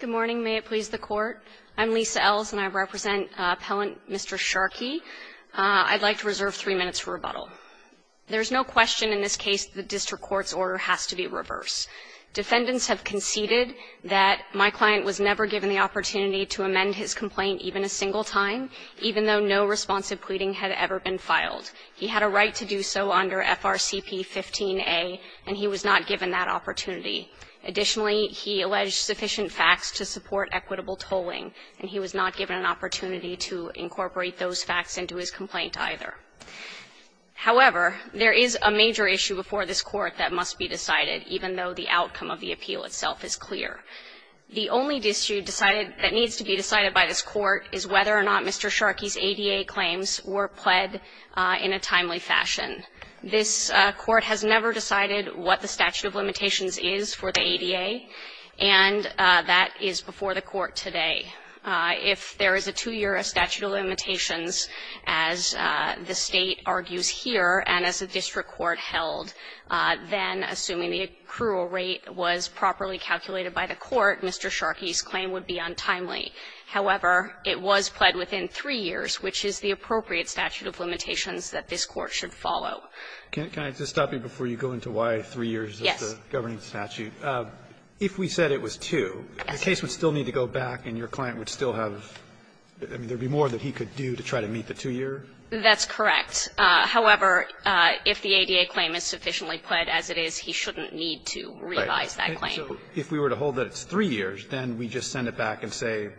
Good morning. May it please the Court. I'm Lisa Ells, and I represent Appellant Mr. Sharkey. I'd like to reserve three minutes for rebuttal. There is no question in this case that the district court's order has to be reverse. Defendants have conceded that my client was never given the opportunity to amend his complaint even a single time, even though no responsive pleading had ever been filed. He had a right to do so under FRCP 15A, and he was not given that opportunity. Additionally, he alleged sufficient facts to support equitable tolling, and he was not given an opportunity to incorporate those facts into his complaint either. However, there is a major issue before this Court that must be decided, even though the outcome of the appeal itself is clear. The only issue decided that needs to be decided by this Court is whether or not Mr. Sharkey's ADA claims were pled in a timely fashion. This Court has never decided what the statute of limitations is for the ADA, and that is before the Court today. If there is a two-year statute of limitations, as the State argues here, and as the district court held, then assuming the accrual rate was properly calculated by the Court, Mr. Sharkey's claim would be untimely. However, it was pled within three years, which is the appropriate statute of limitations that this Court should follow. Roberts, can I just stop you before you go into why three years is the governing statute? If we said it was two, the case would still need to go back and your client would still have the more that he could do to try to meet the two-year? That's correct. However, if the ADA claim is sufficiently pled as it is, he shouldn't need to revise that claim. If we were to hold that it's three years, then we just send it back and say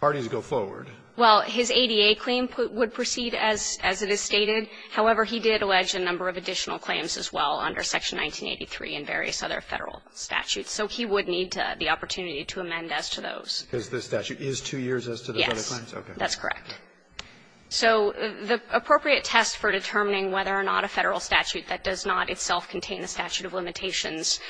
parties go forward. Well, his ADA claim would proceed as it is stated. However, he did allege a number of additional claims as well under Section 1983 and various other Federal statutes. So he would need the opportunity to amend as to those. Because the statute is two years as to the other claims? Yes. That's correct. So the appropriate test for determining whether or not a Federal statute that does not itself contain a statute of limitations,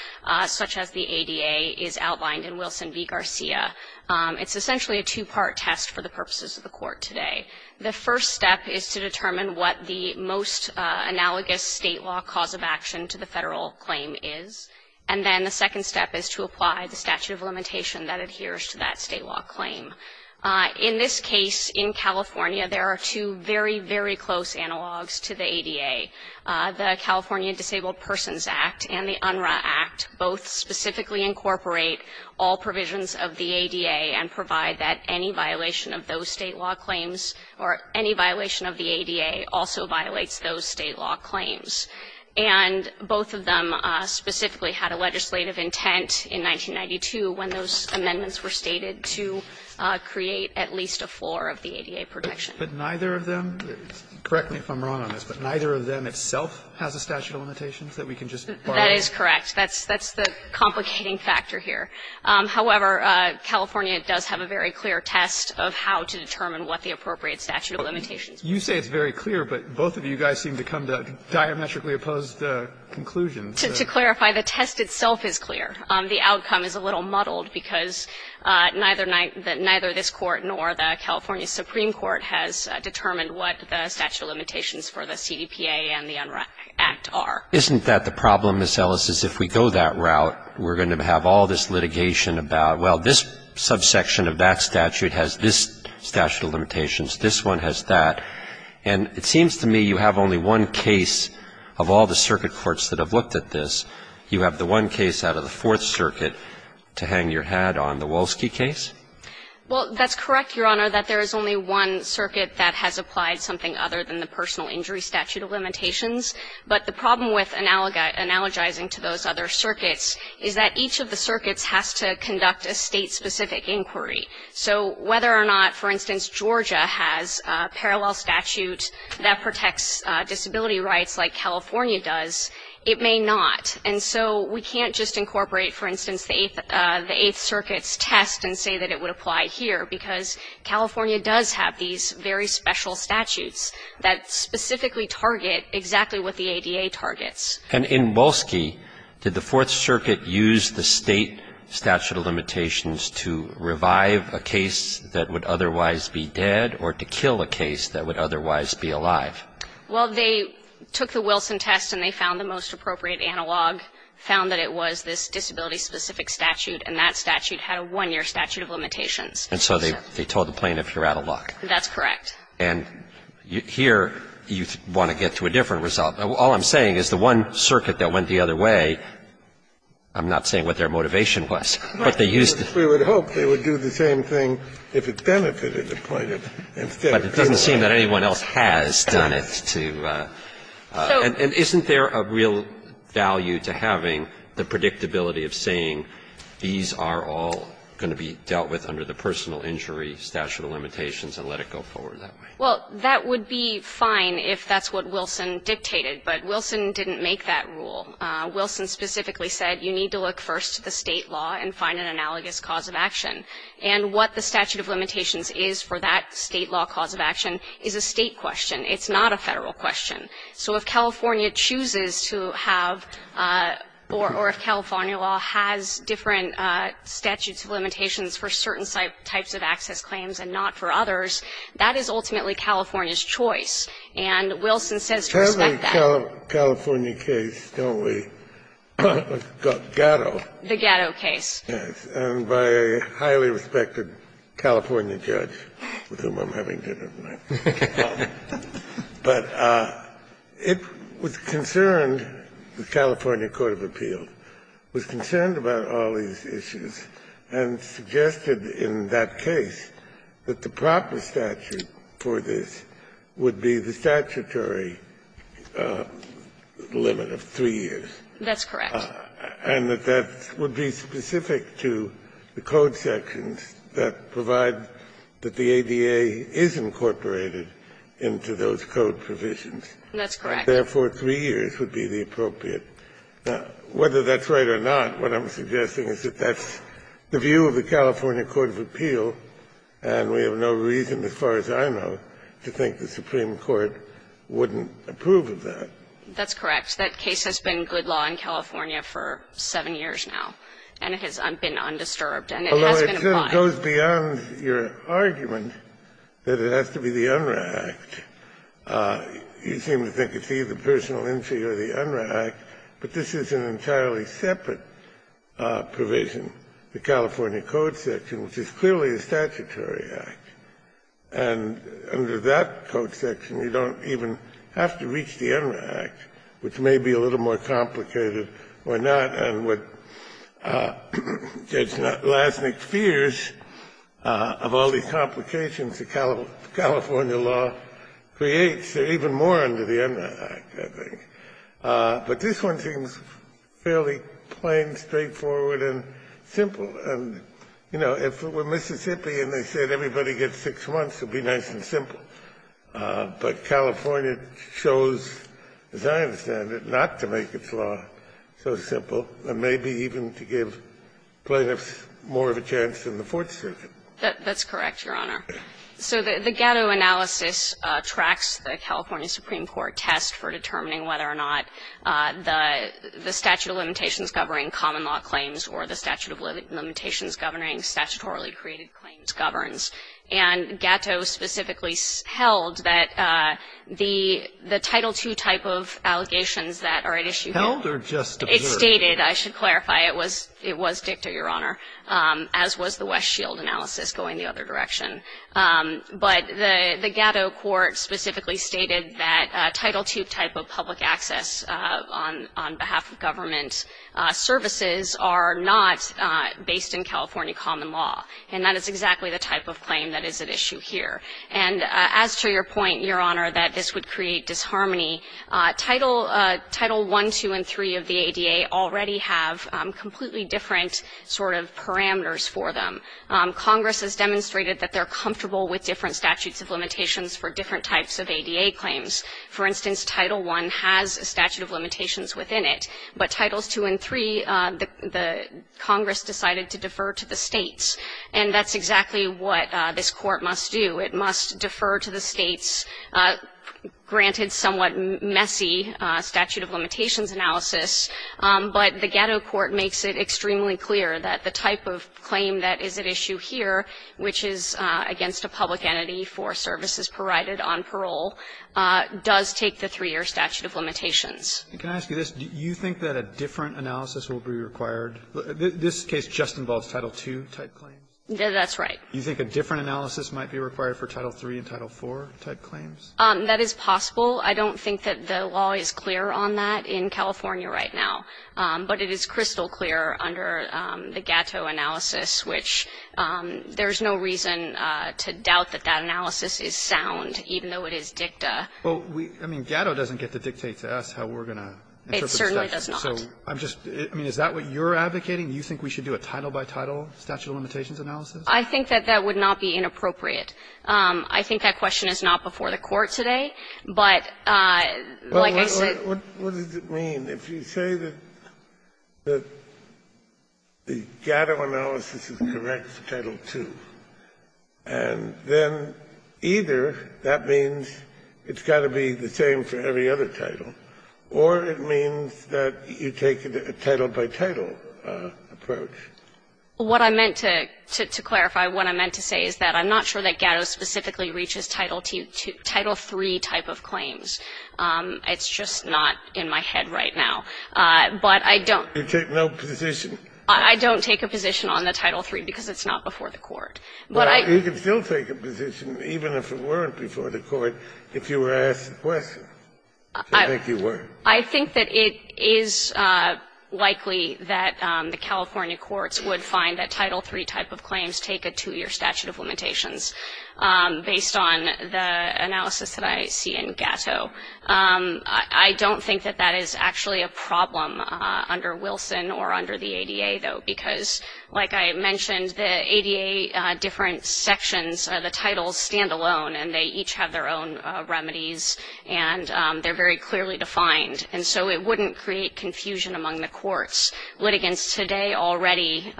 such as the ADA, is outlined in Wilson v. Garcia. It's essentially a two-part test for the purposes of the Court today. The first step is to determine what the most analogous State law cause of action to the Federal claim is. And then the second step is to apply the statute of limitation that adheres to that State law claim. In this case, in California, there are two very, very close analogs to the ADA. The California Disabled Persons Act and the UNRRA Act both specifically incorporate all provisions of the ADA and provide that any violation of those State law claims or any violation of the ADA also violates those State law claims. And both of them specifically had a legislative intent in 1992 when those amendments were stated to create at least a floor of the ADA protection. But neither of them – correct me if I'm wrong on this – but neither of them itself has a statute of limitations that we can just bar them? That is correct. That's the complicating factor here. However, California does have a very clear test of how to determine what the appropriate statute of limitations is. You say it's very clear, but both of you guys seem to come to diametrically opposed conclusions. To clarify, the test itself is clear. The outcome is a little muddled because neither this Court nor the California Supreme Court has determined what the statute of limitations for the CDPA and the UNRRA Act are. Isn't that the problem, Ms. Ellis, is if we go that route, we're going to have all this litigation about, well, this subsection of that statute has this statute of limitations, this one has that. And it seems to me you have only one case of all the circuit courts that have looked at this. You have the one case out of the Fourth Circuit to hang your hat on, the Wolski case? Well, that's correct, Your Honor, that there is only one circuit that has applied something other than the personal injury statute of limitations. But the problem with analogizing to those other circuits is that each of the circuits has to conduct a State-specific inquiry. So whether or not, for instance, Georgia has a parallel statute that protects disability rights like California does, it may not. And so we can't just incorporate, for instance, the Eighth Circuit's test and say that it would apply here, because California does have these very special statutes that specifically target exactly what the ADA targets. And in Wolski, did the Fourth Circuit use the State statute of limitations to revive a case that would otherwise be dead or to kill a case that would otherwise be alive? Well, they took the Wilson test and they found the most appropriate analog, found that it was this disability-specific statute, and that statute had a one-year statute of limitations. And so they told the plaintiff, you're out of luck. That's correct. And here, you want to get to a different result. All I'm saying is the one circuit that went the other way, I'm not saying what their motivation was, but they used it. We would hope they would do the same thing if it benefited the plaintiff instead of killing him. But it doesn't seem that anyone else has done it to the plaintiff. And isn't there a real value to having the predictability of saying these are all going to be dealt with under the personal injury statute of limitations and let it go forward that way? Well, that would be fine if that's what Wilson dictated. But Wilson didn't make that rule. Wilson specifically said you need to look first to the State law and find an analogous cause of action. And what the statute of limitations is for that State law cause of action is a State question. It's not a Federal question. So if California chooses to have or if California law has different statutes of limitations for certain types of access claims and not for others, that is ultimately California's choice. And Wilson says to respect that. Kennedy, California case, don't we? Gatto. The Gatto case. Yes. And by a highly respected California judge, with whom I'm having dinner tonight. But it was concerned, the California court of appeals, was concerned about all these issues and suggested in that case that the proper statute for this would be the statutory limit of 3 years. That's correct. And that that would be specific to the code sections that provide that the ADA is incorporated into those code provisions. That's correct. Therefore, 3 years would be the appropriate. Now, whether that's right or not, what I'm suggesting is that that's the view of the California court of appeal, and we have no reason, as far as I know, to think the Supreme Court wouldn't approve of that. That's correct. That case has been good law in California for 7 years now. And it has been undisturbed. And it has been applied. Although it goes beyond your argument that it has to be the UNRRA Act. You seem to think it's either personal injury or the UNRRA Act, but this is an entirely separate provision, the California code section, which is clearly a statutory act. And under that code section, you don't even have to reach the UNRRA Act, which may be a little more complicated or not. And what Judge Lasnik fears of all these complications, the California law, is that it creates even more under the UNRRA Act, I think. But this one seems fairly plain, straightforward, and simple. And, you know, if it were Mississippi and they said everybody gets 6 months, it would be nice and simple. But California chose, as I understand it, not to make its law so simple, and maybe even to give plaintiffs more of a chance than the Fourth Circuit. That's correct, Your Honor. So the Gatto analysis tracks the California Supreme Court test for determining whether or not the statute of limitations governing common law claims or the statute of limitations governing statutorily created claims governs. And Gatto specifically held that the Title II type of allegations that are at issue here... Held or just observed? It stated, I should clarify, it was dicta, Your Honor, as was the West Shield analysis going the other direction. But the Gatto court specifically stated that Title II type of public access on behalf of government services are not based in California common law. And that is exactly the type of claim that is at issue here. And as to your point, Your Honor, that this would create disharmony, Title I, II, and III of the ADA already have completely different sort of parameters for them. Congress has demonstrated that they're comfortable with different statutes of limitations for different types of ADA claims. For instance, Title I has a statute of limitations within it. But Titles II and III, the Congress decided to defer to the states. And that's exactly what this Court must do. It must defer to the states, granted somewhat messy statute of limitations analysis, but the Gatto court makes it extremely clear that the type of claim that is at issue here, which is against a public entity for services provided on parole, does take the three-year statute of limitations. Can I ask you this? Do you think that a different analysis will be required? This case just involves Title II type claims. That's right. Do you think a different analysis might be required for Title III and Title IV type claims? That is possible. I don't think that the law is clear on that in California right now. But it is crystal clear under the Gatto analysis, which there's no reason to doubt that that analysis is sound, even though it is dicta. Well, we – I mean, Gatto doesn't get to dictate to us how we're going to interpret statute. It certainly does not. So I'm just – I mean, is that what you're advocating? You think we should do a title-by-title statute of limitations analysis? I think that that would not be inappropriate. I think that question is not before the Court today. But like I said – What does it mean? If you say that the Gatto analysis is correct for Title II, and then either that means it's got to be the same for every other title, or it means that you take a title-by-title approach. What I meant to clarify, what I meant to say is that I'm not sure that Gatto specifically reaches Title II – Title III type of claims. It's just not in my head right now. But I don't – You take no position? I don't take a position on the Title III because it's not before the Court. But I – But you can still take a position, even if it weren't before the Court, if you were asked the question. I think you were. I think that it is likely that the California courts would find that Title III type of claims take a two-year statute of limitations, based on the analysis that I see in Gatto. I don't think that that is actually a problem under Wilson or under the ADA, though, because, like I mentioned, the ADA different sections, the titles stand alone, and they each have their own remedies, and they're very clearly defined. And so it wouldn't create confusion among the courts. Litigants today already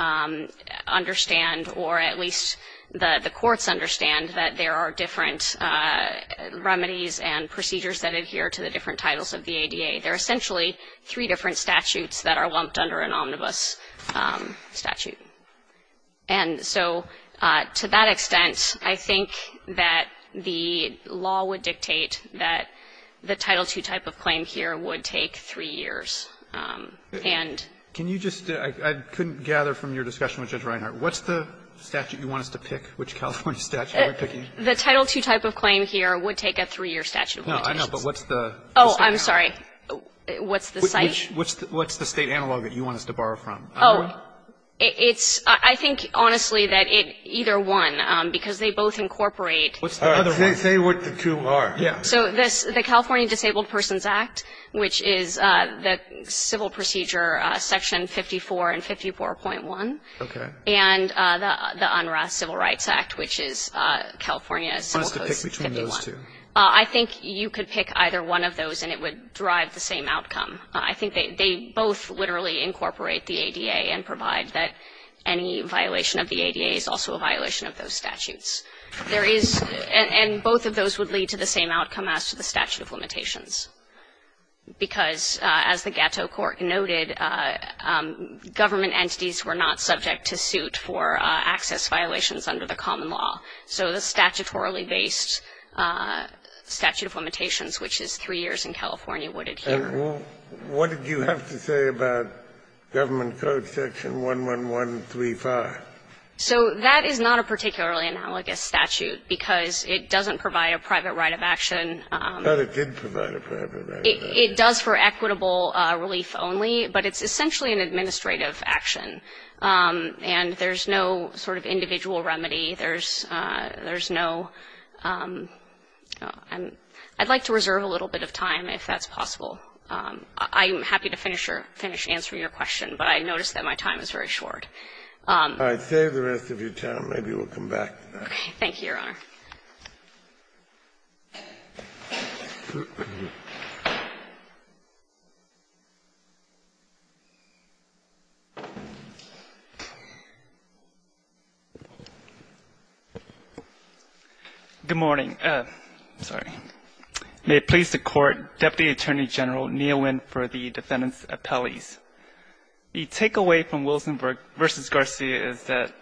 understand, or at least the courts understand, that there are three different remedies and procedures that adhere to the different titles of the ADA. There are essentially three different statutes that are lumped under an omnibus statute. And so to that extent, I think that the law would dictate that the Title II type of claim here would take three years, and – Can you just – I couldn't gather from your discussion with Judge Reinhart. What's the statute you want us to pick, which California statute are we picking? The Title II type of claim here would take a three-year statute of limitations. No, I know, but what's the – Oh, I'm sorry. What's the site? What's the state analog that you want us to borrow from? Oh, it's – I think, honestly, that it – either one, because they both incorporate – Say what the two are. Yeah. So the California Disabled Persons Act, which is the civil procedure section 54 and 54.1. Okay. And the UNRRA Civil Rights Act, which is California Civil Code 51. What's to pick between those two? I think you could pick either one of those, and it would drive the same outcome. I think they both literally incorporate the ADA and provide that any violation of the ADA is also a violation of those statutes. There is – and both of those would lead to the same outcome as to the statute of limitations, because, as the Gatto Court noted, government entities were not subject to suit for access violations under the common law. So the statutorily based statute of limitations, which is three years in California, would adhere. And what did you have to say about Government Code Section 11135? So that is not a particularly analogous statute, because it doesn't provide a private right of action. But it did provide a private right of action. It does for equitable relief only, but it's essentially an administrative action. And there's no sort of individual remedy. There's no – I'd like to reserve a little bit of time if that's possible. I'm happy to finish your – finish answering your question, but I notice that my time is very short. All right. Save the rest of your time. Maybe we'll come back to that. Thank you, Your Honor. Good morning. Sorry. May it please the Court, Deputy Attorney General Neal Wynn for the defendant's appellees. The takeaway from Wilsenberg v. Garcia is that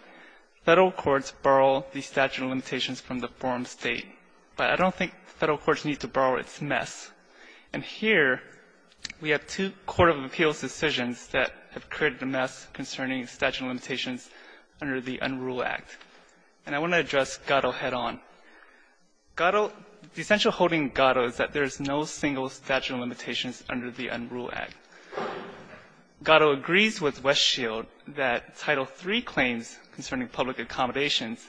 Federal courts borrow the statute of limitations from the form State, but I don't think Federal courts need to borrow its mess. And here, we have two court of appeals decisions that have created a mess concerning statute of limitations under the UNRULE Act, and I want to address Gatto head-on. Gatto – the essential holding in Gatto is that there is no single statute of limitations under the UNRULE Act. Gatto agrees with Westshield that Title III claims concerning public accommodations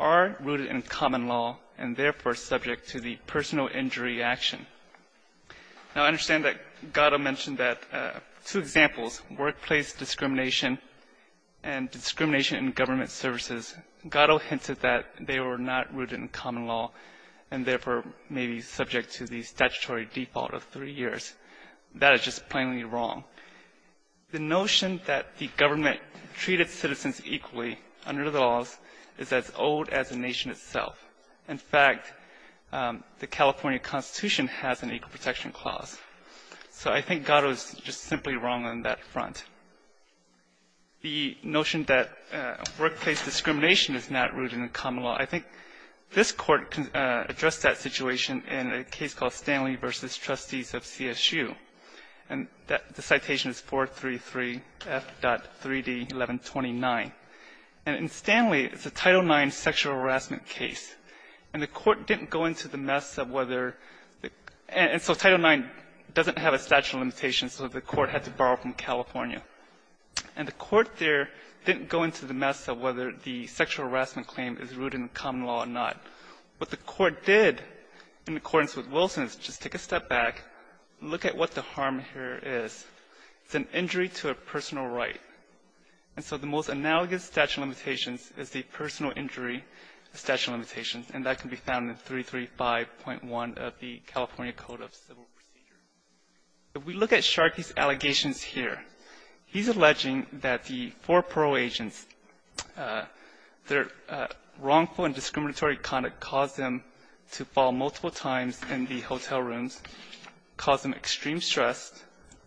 are rooted in common law and, therefore, subject to the personal injury action. Now, I understand that Gatto mentioned that two examples, workplace discrimination and discrimination in government services, Gatto hinted that they were not rooted in common law and, therefore, may be subject to the statutory default of three years. That is just plainly wrong. The notion that the government treated citizens equally under the laws is as old as the nation itself. In fact, the California Constitution has an equal protection clause. So I think Gatto is just simply wrong on that front. The notion that workplace discrimination is not rooted in common law, I think this Court addressed that situation in a case called Stanley v. Trustees of CSU. And the citation is 433F.3D1129. And in Stanley, it's a Title IX sexual harassment case. And the Court didn't go into the mess of whether the – and so Title IX doesn't have a statute of limitations, so the Court had to borrow from California. And the Court there didn't go into the mess of whether the sexual harassment claim is rooted in common law or not. What the Court did, in accordance with Wilson, is just take a step back, look at what the harm here is. It's an injury to a personal right. And so the most analogous statute of limitations is the personal injury statute of limitations, and that can be found in 335.1 of the California Code of Civil Procedures. If we look at Sharkey's allegations here, he's alleging that the four parole agents in this case, their wrongful and discriminatory conduct caused them to fall multiple times in the hotel rooms, caused them extreme stress,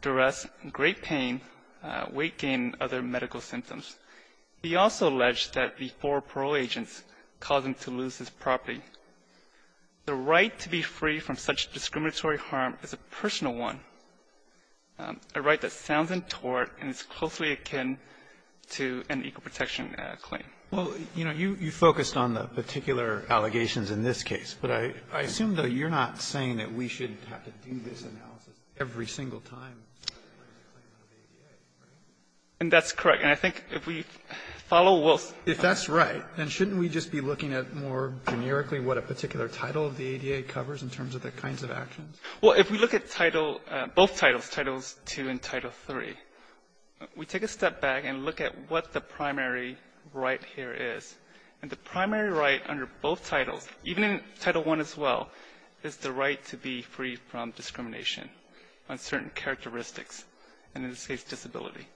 duress, great pain, weight gain, and other medical symptoms. He also alleged that the four parole agents caused him to lose his property. The right to be free from such discriminatory harm is a personal one, a right that sounds untoward and is closely akin to an equal protection claim. Robertson, Well, you know, you focused on the particular allegations in this case. But I assume, though, you're not saying that we should have to do this analysis every single time. Martinez, And that's correct. And I think if we follow Wilson's case. Robertson, If that's right, then shouldn't we just be looking at more generically Martinez, Well, if we look at Title — both titles, Title II and Title III, we take a step back and look at what the primary right here is. And the primary right under both titles, even in Title I as well, is the right to be free from discrimination on certain characteristics, and in this case, disability.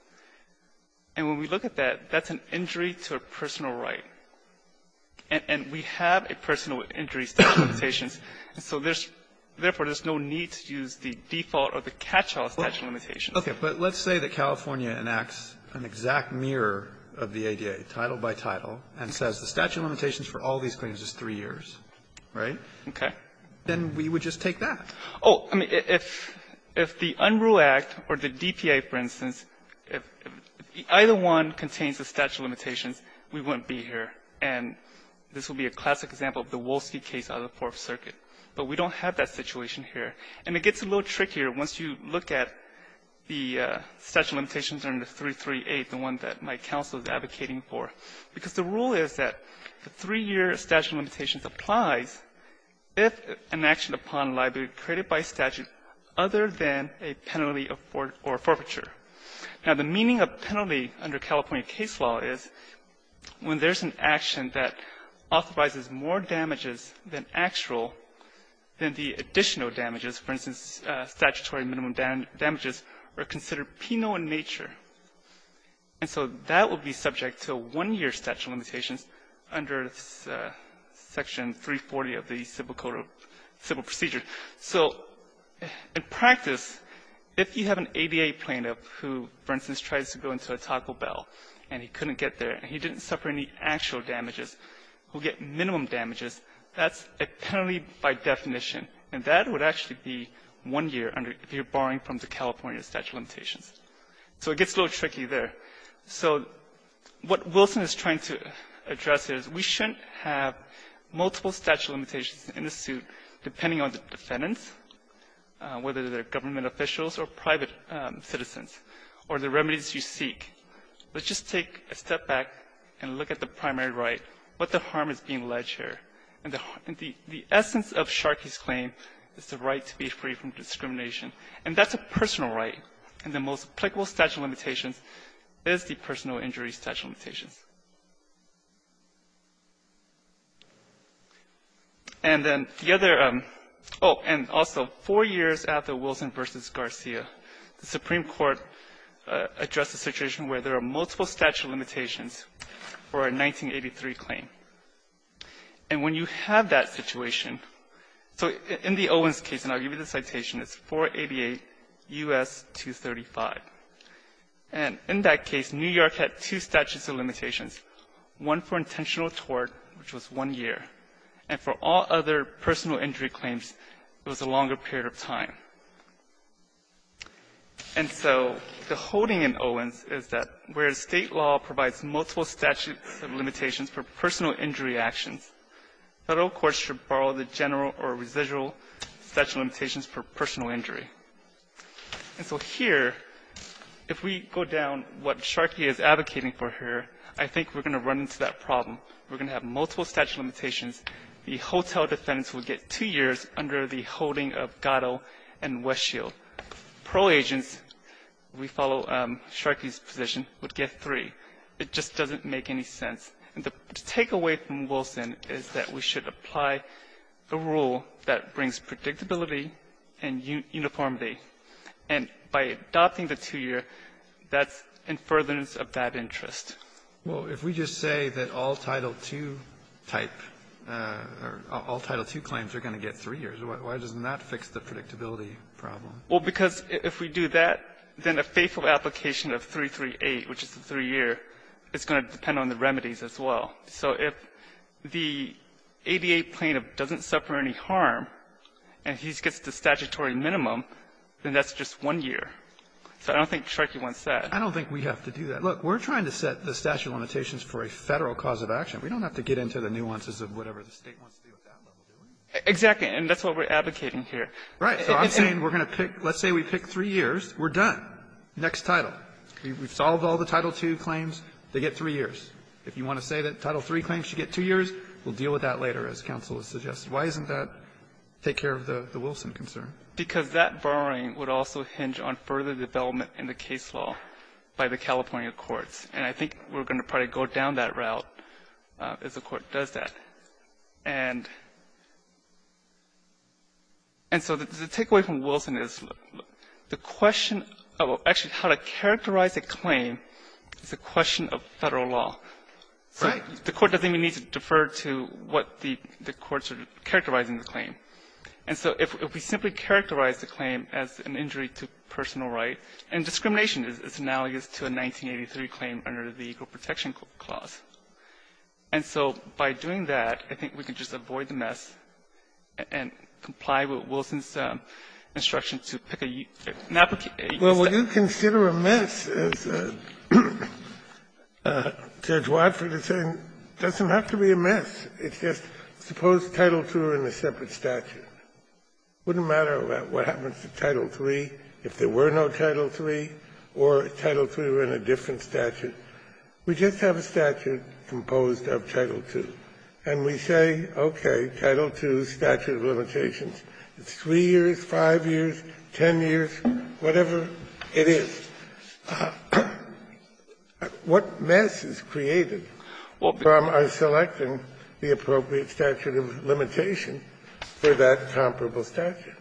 And when we look at that, that's an injury to a personal right. And we have a personal injury statute of limitations, and so there's — therefore, there's no need to use the default or the catch-all statute of limitations. Alito, Okay. But let's say that California enacts an exact mirror of the ADA, title by title, and says the statute of limitations for all these claims is three years, right? Martinez, Okay. Alito, Then we would just take that. Martinez, Oh. I mean, if the Unrule Act or the DPA, for instance, if either one contains the statute of limitations, we wouldn't be here. And this would be a classic example of the Wolsky case out of the Fourth Circuit. But we don't have that situation here. And it gets a little trickier once you look at the statute of limitations under 338, the one that my counsel is advocating for. Because the rule is that the three-year statute of limitations applies if an action upon liability created by statute other than a penalty of forfeiture. Now, the meaning of penalty under California case law is when there's an action that authorizes more damages than actual, than the additional damages, for instance, statutory minimum damages, are considered penal in nature. And so that would be subject to a one-year statute of limitations under Section 340 of the Civil Code of Civil Procedure. So in practice, if you have an ADA plaintiff who, for instance, tries to go into a Taco Bell and he couldn't get there and he didn't suffer any actual damages, will get minimum damages, that's a penalty by definition. And that would actually be one year under if you're borrowing from the California statute of limitations. So it gets a little tricky there. So what Wilson is trying to address is we shouldn't have multiple statute of limitations in the suit depending on the defendants, whether they're government officials or private citizens, or the remedies you seek. Let's just take a step back and look at the primary right, what the harm is being alleged here. And the essence of Sharkey's claim is the right to be free from discrimination. And that's a personal right. And the most applicable statute of limitations is the personal injury statute of limitations. And then the other oh, and also four years after Wilson v. Garcia, the Supreme Court addressed the situation where there are multiple statute of limitations for a 1983 claim. And when you have that situation, so in the Owens case, and I'll give you the citation, it's 488 U.S. 235. And in that case, New York had two statutes of limitations, one for intentional tort, which was one year, and for all other personal injury claims, it was a longer period of time. And so the holding in Owens is that where the State law provides multiple statute of limitations for personal injury actions, Federal courts should borrow the general or residual statute of limitations for personal injury. And so here, if we go down what Sharkey is advocating for here, I think we're going to run into that problem. We're going to have multiple statute of limitations. The hotel defendants would get two years under the holding of Gatto and Westfield. Parole agents, we follow Sharkey's position, would get three. It just doesn't make any sense. And the takeaway from Wilson is that we should apply a rule that brings predictability and uniformity. And by adopting the two-year, that's in furtherance of that interest. Well, if we just say that all Title II-type or all Title II claims are going to get three years, why doesn't that fix the predictability problem? Well, because if we do that, then a faithful application of 338, which is the three-year, is going to depend on the remedies as well. So if the ADA plaintiff doesn't suffer any harm and he gets the statutory minimum, then that's just one year. So I don't think Sharkey wants that. I don't think we have to do that. Look, we're trying to set the statute of limitations for a Federal cause of action. We don't have to get into the nuances of whatever the State wants to do at that level, do we? Exactly. And that's what we're advocating here. Right. So I'm saying we're going to pick — let's say we pick three years. We're done. Next title. We've solved all the Title II claims. They get three years. If you want to say that Title III claims should get two years, we'll deal with that later, as counsel has suggested. Why doesn't that take care of the Wilson concern? Because that borrowing would also hinge on further development in the case law by the California courts. And I think we're going to probably go down that route as the Court does that. And so the takeaway from Wilson is the question of actually how to characterize a claim is a question of Federal law. Right. The Court doesn't even need to defer to what the courts are characterizing the claim. And so if we simply characterize the claim as an injury to personal right, and discrimination is analogous to a 1983 claim under the Equal Protection Clause. And so by doing that, I think we can just avoid the mess and comply with Wilson's instruction to pick a — Kennedy, well, would you consider a mess, as Judge Watford is saying, doesn't have to be a mess. It's just suppose Title II are in a separate statute. It wouldn't matter what happens to Title III if there were no Title III or Title III were in a different statute. We just have a statute composed of Title II. And we say, okay, Title II, statute of limitations, it's three years, five years, ten years, whatever it is. What mess is created from our selecting the appropriate statute of limitation for that comparable statute?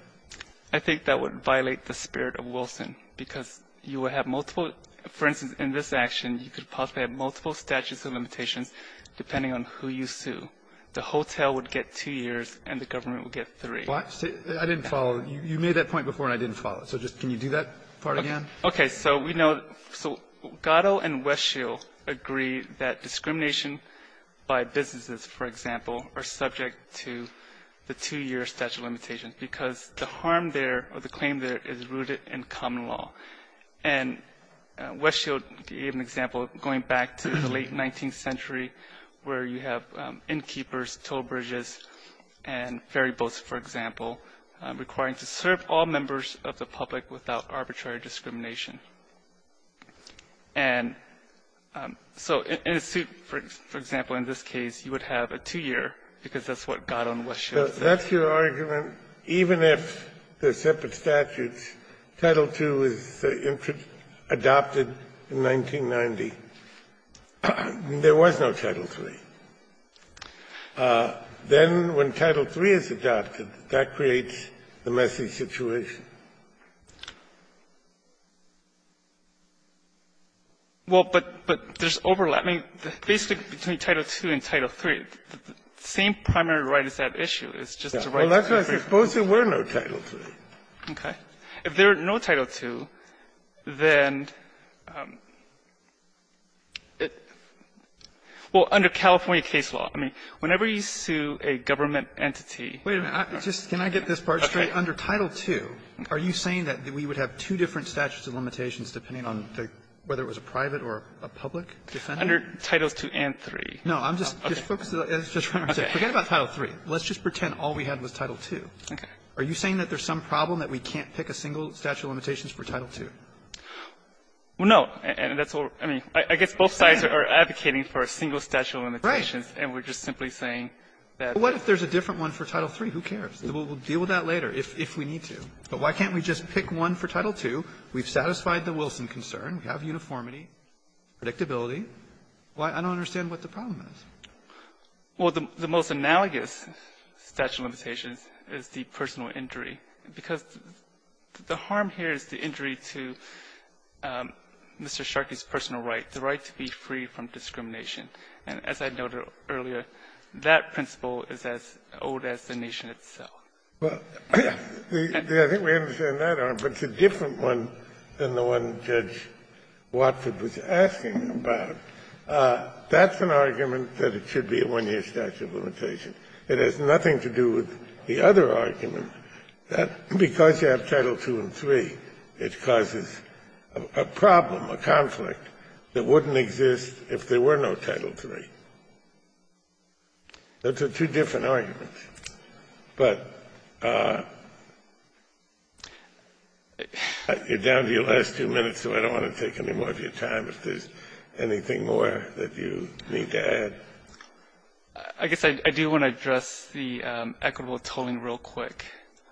I think that would violate the spirit of Wilson, because you would have multiple — for instance, in this action, you could possibly have multiple statutes of limitations depending on who you sue. The hotel would get two years, and the government would get three. I didn't follow. You made that point before, and I didn't follow it. So just can you do that part again? Okay. So we know — so Gatto and Westfield agree that discrimination by businesses, for example, are subject to the two-year statute of limitations, because the harm there or the claim there is rooted in common law. And Westfield gave an example, going back to the late 19th century, where you have a two-year statute, for example, requiring to serve all members of the public without arbitrary discrimination. And so in a suit, for example, in this case, you would have a two-year, because that's what Gatto and Westfield said. That's your argument? Even if they're separate statutes, Title II is adopted in 1990. There was no Title III. Then when Title III is adopted, that creates the messy situation. Well, but there's overlap. I mean, basically, between Title II and Title III, the same primary right is at issue. It's just the right to have three. Well, that's why I suppose there were no Title II. Okay. If there are no Title II, then it – well, under California case law, I mean, whenever you sue a government entity – Wait a minute. Just can I get this part straight? Okay. Under Title II, are you saying that we would have two different statutes of limitations depending on whether it was a private or a public defendant? Under Titles II and III. No. I'm just – Okay. Just focus on what I'm saying. Forget about Title III. Let's just pretend all we had was Title II. Okay. Are you saying that there's some problem that we can't pick a single statute of limitations for Title II? Well, no. And that's all – I mean, I guess both sides are advocating for a single statute of limitations. Right. And we're just simply saying that – What if there's a different one for Title III? Who cares? We'll deal with that later if we need to. But why can't we just pick one for Title II? We've satisfied the Wilson concern. We have uniformity, predictability. I don't understand what the problem is. Well, the most analogous statute of limitations is the personal injury, because the harm here is the injury to Mr. Sharkey's personal right, the right to be free from discrimination. And as I noted earlier, that principle is as old as the nation itself. Well, I think we understand that arm, but it's a different one than the one Judge Watford was asking about. That's an argument that it should be a one-year statute of limitations. It has nothing to do with the other argument that because you have Title II and III, it causes a problem, a conflict that wouldn't exist if there were no Title III. Those are two different arguments. But you're down to your last two minutes, so I don't want to take any more of your time if there's anything more that you need to add. I guess I do want to address the equitable tolling real quick.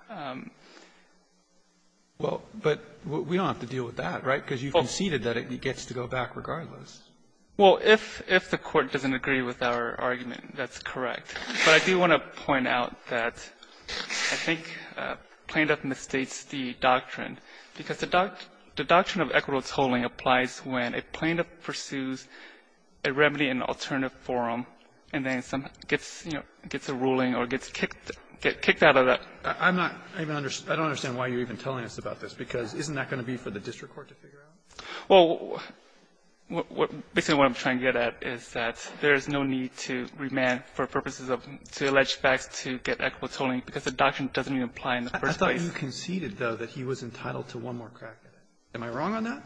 Well, but we don't have to deal with that, right? Because you conceded that it gets to go back regardless. Well, if the Court doesn't agree with our argument, that's correct. But I do want to point out that I think Plano misstates the doctrine, because the doctrine of equitable tolling applies when a plaintiff pursues a remedy in an alternative forum and then gets a ruling or gets kicked out of that. I don't understand why you're even telling us about this, because isn't that going to be for the district court to figure out? Well, basically what I'm trying to get at is that there's no need to remand for purposes of to allege facts to get equitable tolling because the doctrine doesn't even apply in the first place. I thought you conceded, though, that he was entitled to one more crack at it. Am I wrong on that?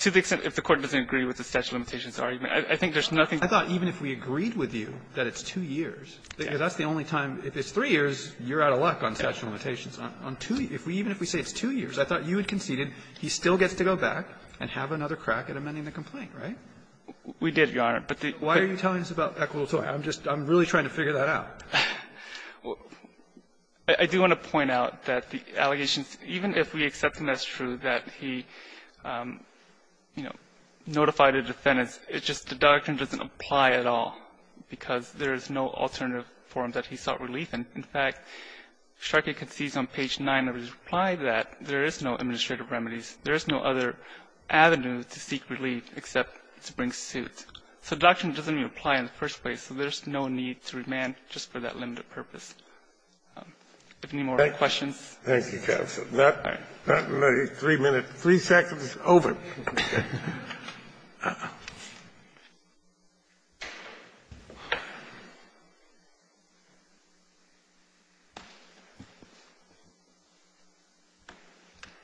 To the extent if the Court doesn't agree with the statute of limitations argument, I think there's nothing to argue. I thought even if we agreed with you that it's two years, because that's the only time, if it's three years, you're out of luck on statute of limitations. On two years, even if we say it's two years, I thought you had conceded he still gets to go back and have another crack at amending the complaint, right? We did, Your Honor, but the --- Why are you telling us about equitable tolling? I'm just really trying to figure that out. I do want to point out that the allegations, even if we accept them as true, that he, you know, notified a defendant, it's just the doctrine doesn't apply at all because there is no alternative form that he sought relief in. In fact, Sharkey concedes on page 9 of his reply that there is no administrative remedies. There is no other avenue to seek relief except to bring suits. So the doctrine doesn't even apply in the first place, so there's no need to remand just for that limited purpose. If any more questions? Thank you, counsel. All right. Three minutes, three seconds, over.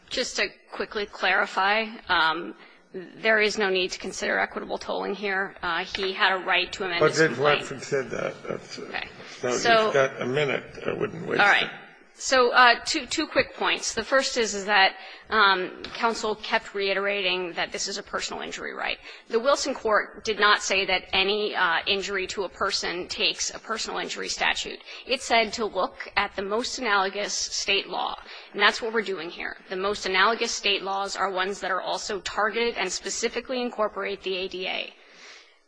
Just to quickly clarify, there is no need to consider equitable tolling here. He had a right to amend his complaint. Kennedy, you said that. So if you've got a minute, I wouldn't waste it. All right. So two quick points. The first is that counsel kept reiterating that this is a personal injury right. The Wilson court did not say that any injury to a person takes a personal injury statute. It said to look at the most analogous State law, and that's what we're doing here. The most analogous State laws are ones that are also targeted and specifically incorporate the ADA.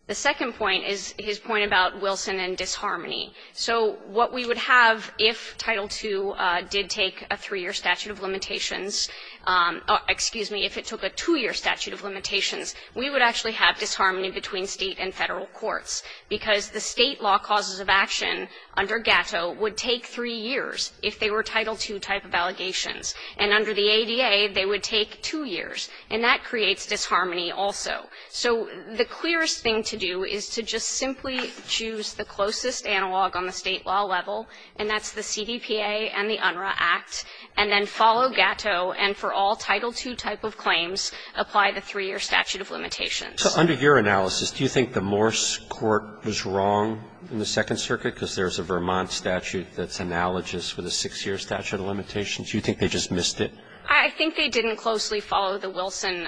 The second point is his point about Wilson and disharmony. So what we would have if Title II did take a three-year statute of limitations or, excuse me, if it took a two-year statute of limitations, we would actually have disharmony between State and Federal courts, because the State law causes of action under Gatto would take three years if they were Title II type of allegations, and under the ADA, they would take two years, and that creates disharmony also. So the clearest thing to do is to just simply choose the closest analog on the State law level, and that's the CDPA and the UNRRA Act, and then follow Gatto and for all Title II type of claims, apply the three-year statute of limitations. Roberts. So under your analysis, do you think the Morse court was wrong in the Second Circuit, because there's a Vermont statute that's analogous with a six-year statute of limitations? Do you think they just missed it? I think they didn't closely follow the Wilson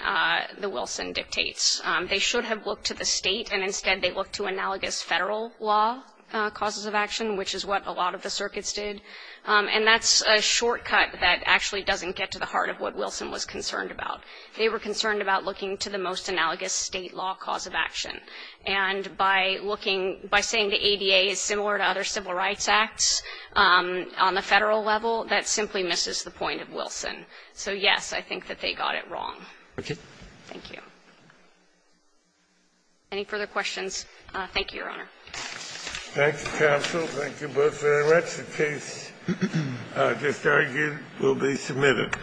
dictates. They should have looked to the State, and instead they looked to analogous Federal law causes of action, which is what a lot of the circuits did. And that's a shortcut that actually doesn't get to the heart of what Wilson was concerned about. They were concerned about looking to the most analogous State law cause of action. And by looking, by saying the ADA is similar to other civil rights acts on the Federal level, that simply misses the point of Wilson. So, yes, I think that they got it wrong. Okay. Thank you. Any further questions? Thank you, Your Honor. Thank you, counsel. Thank you both very much. The case just argued will be submitted.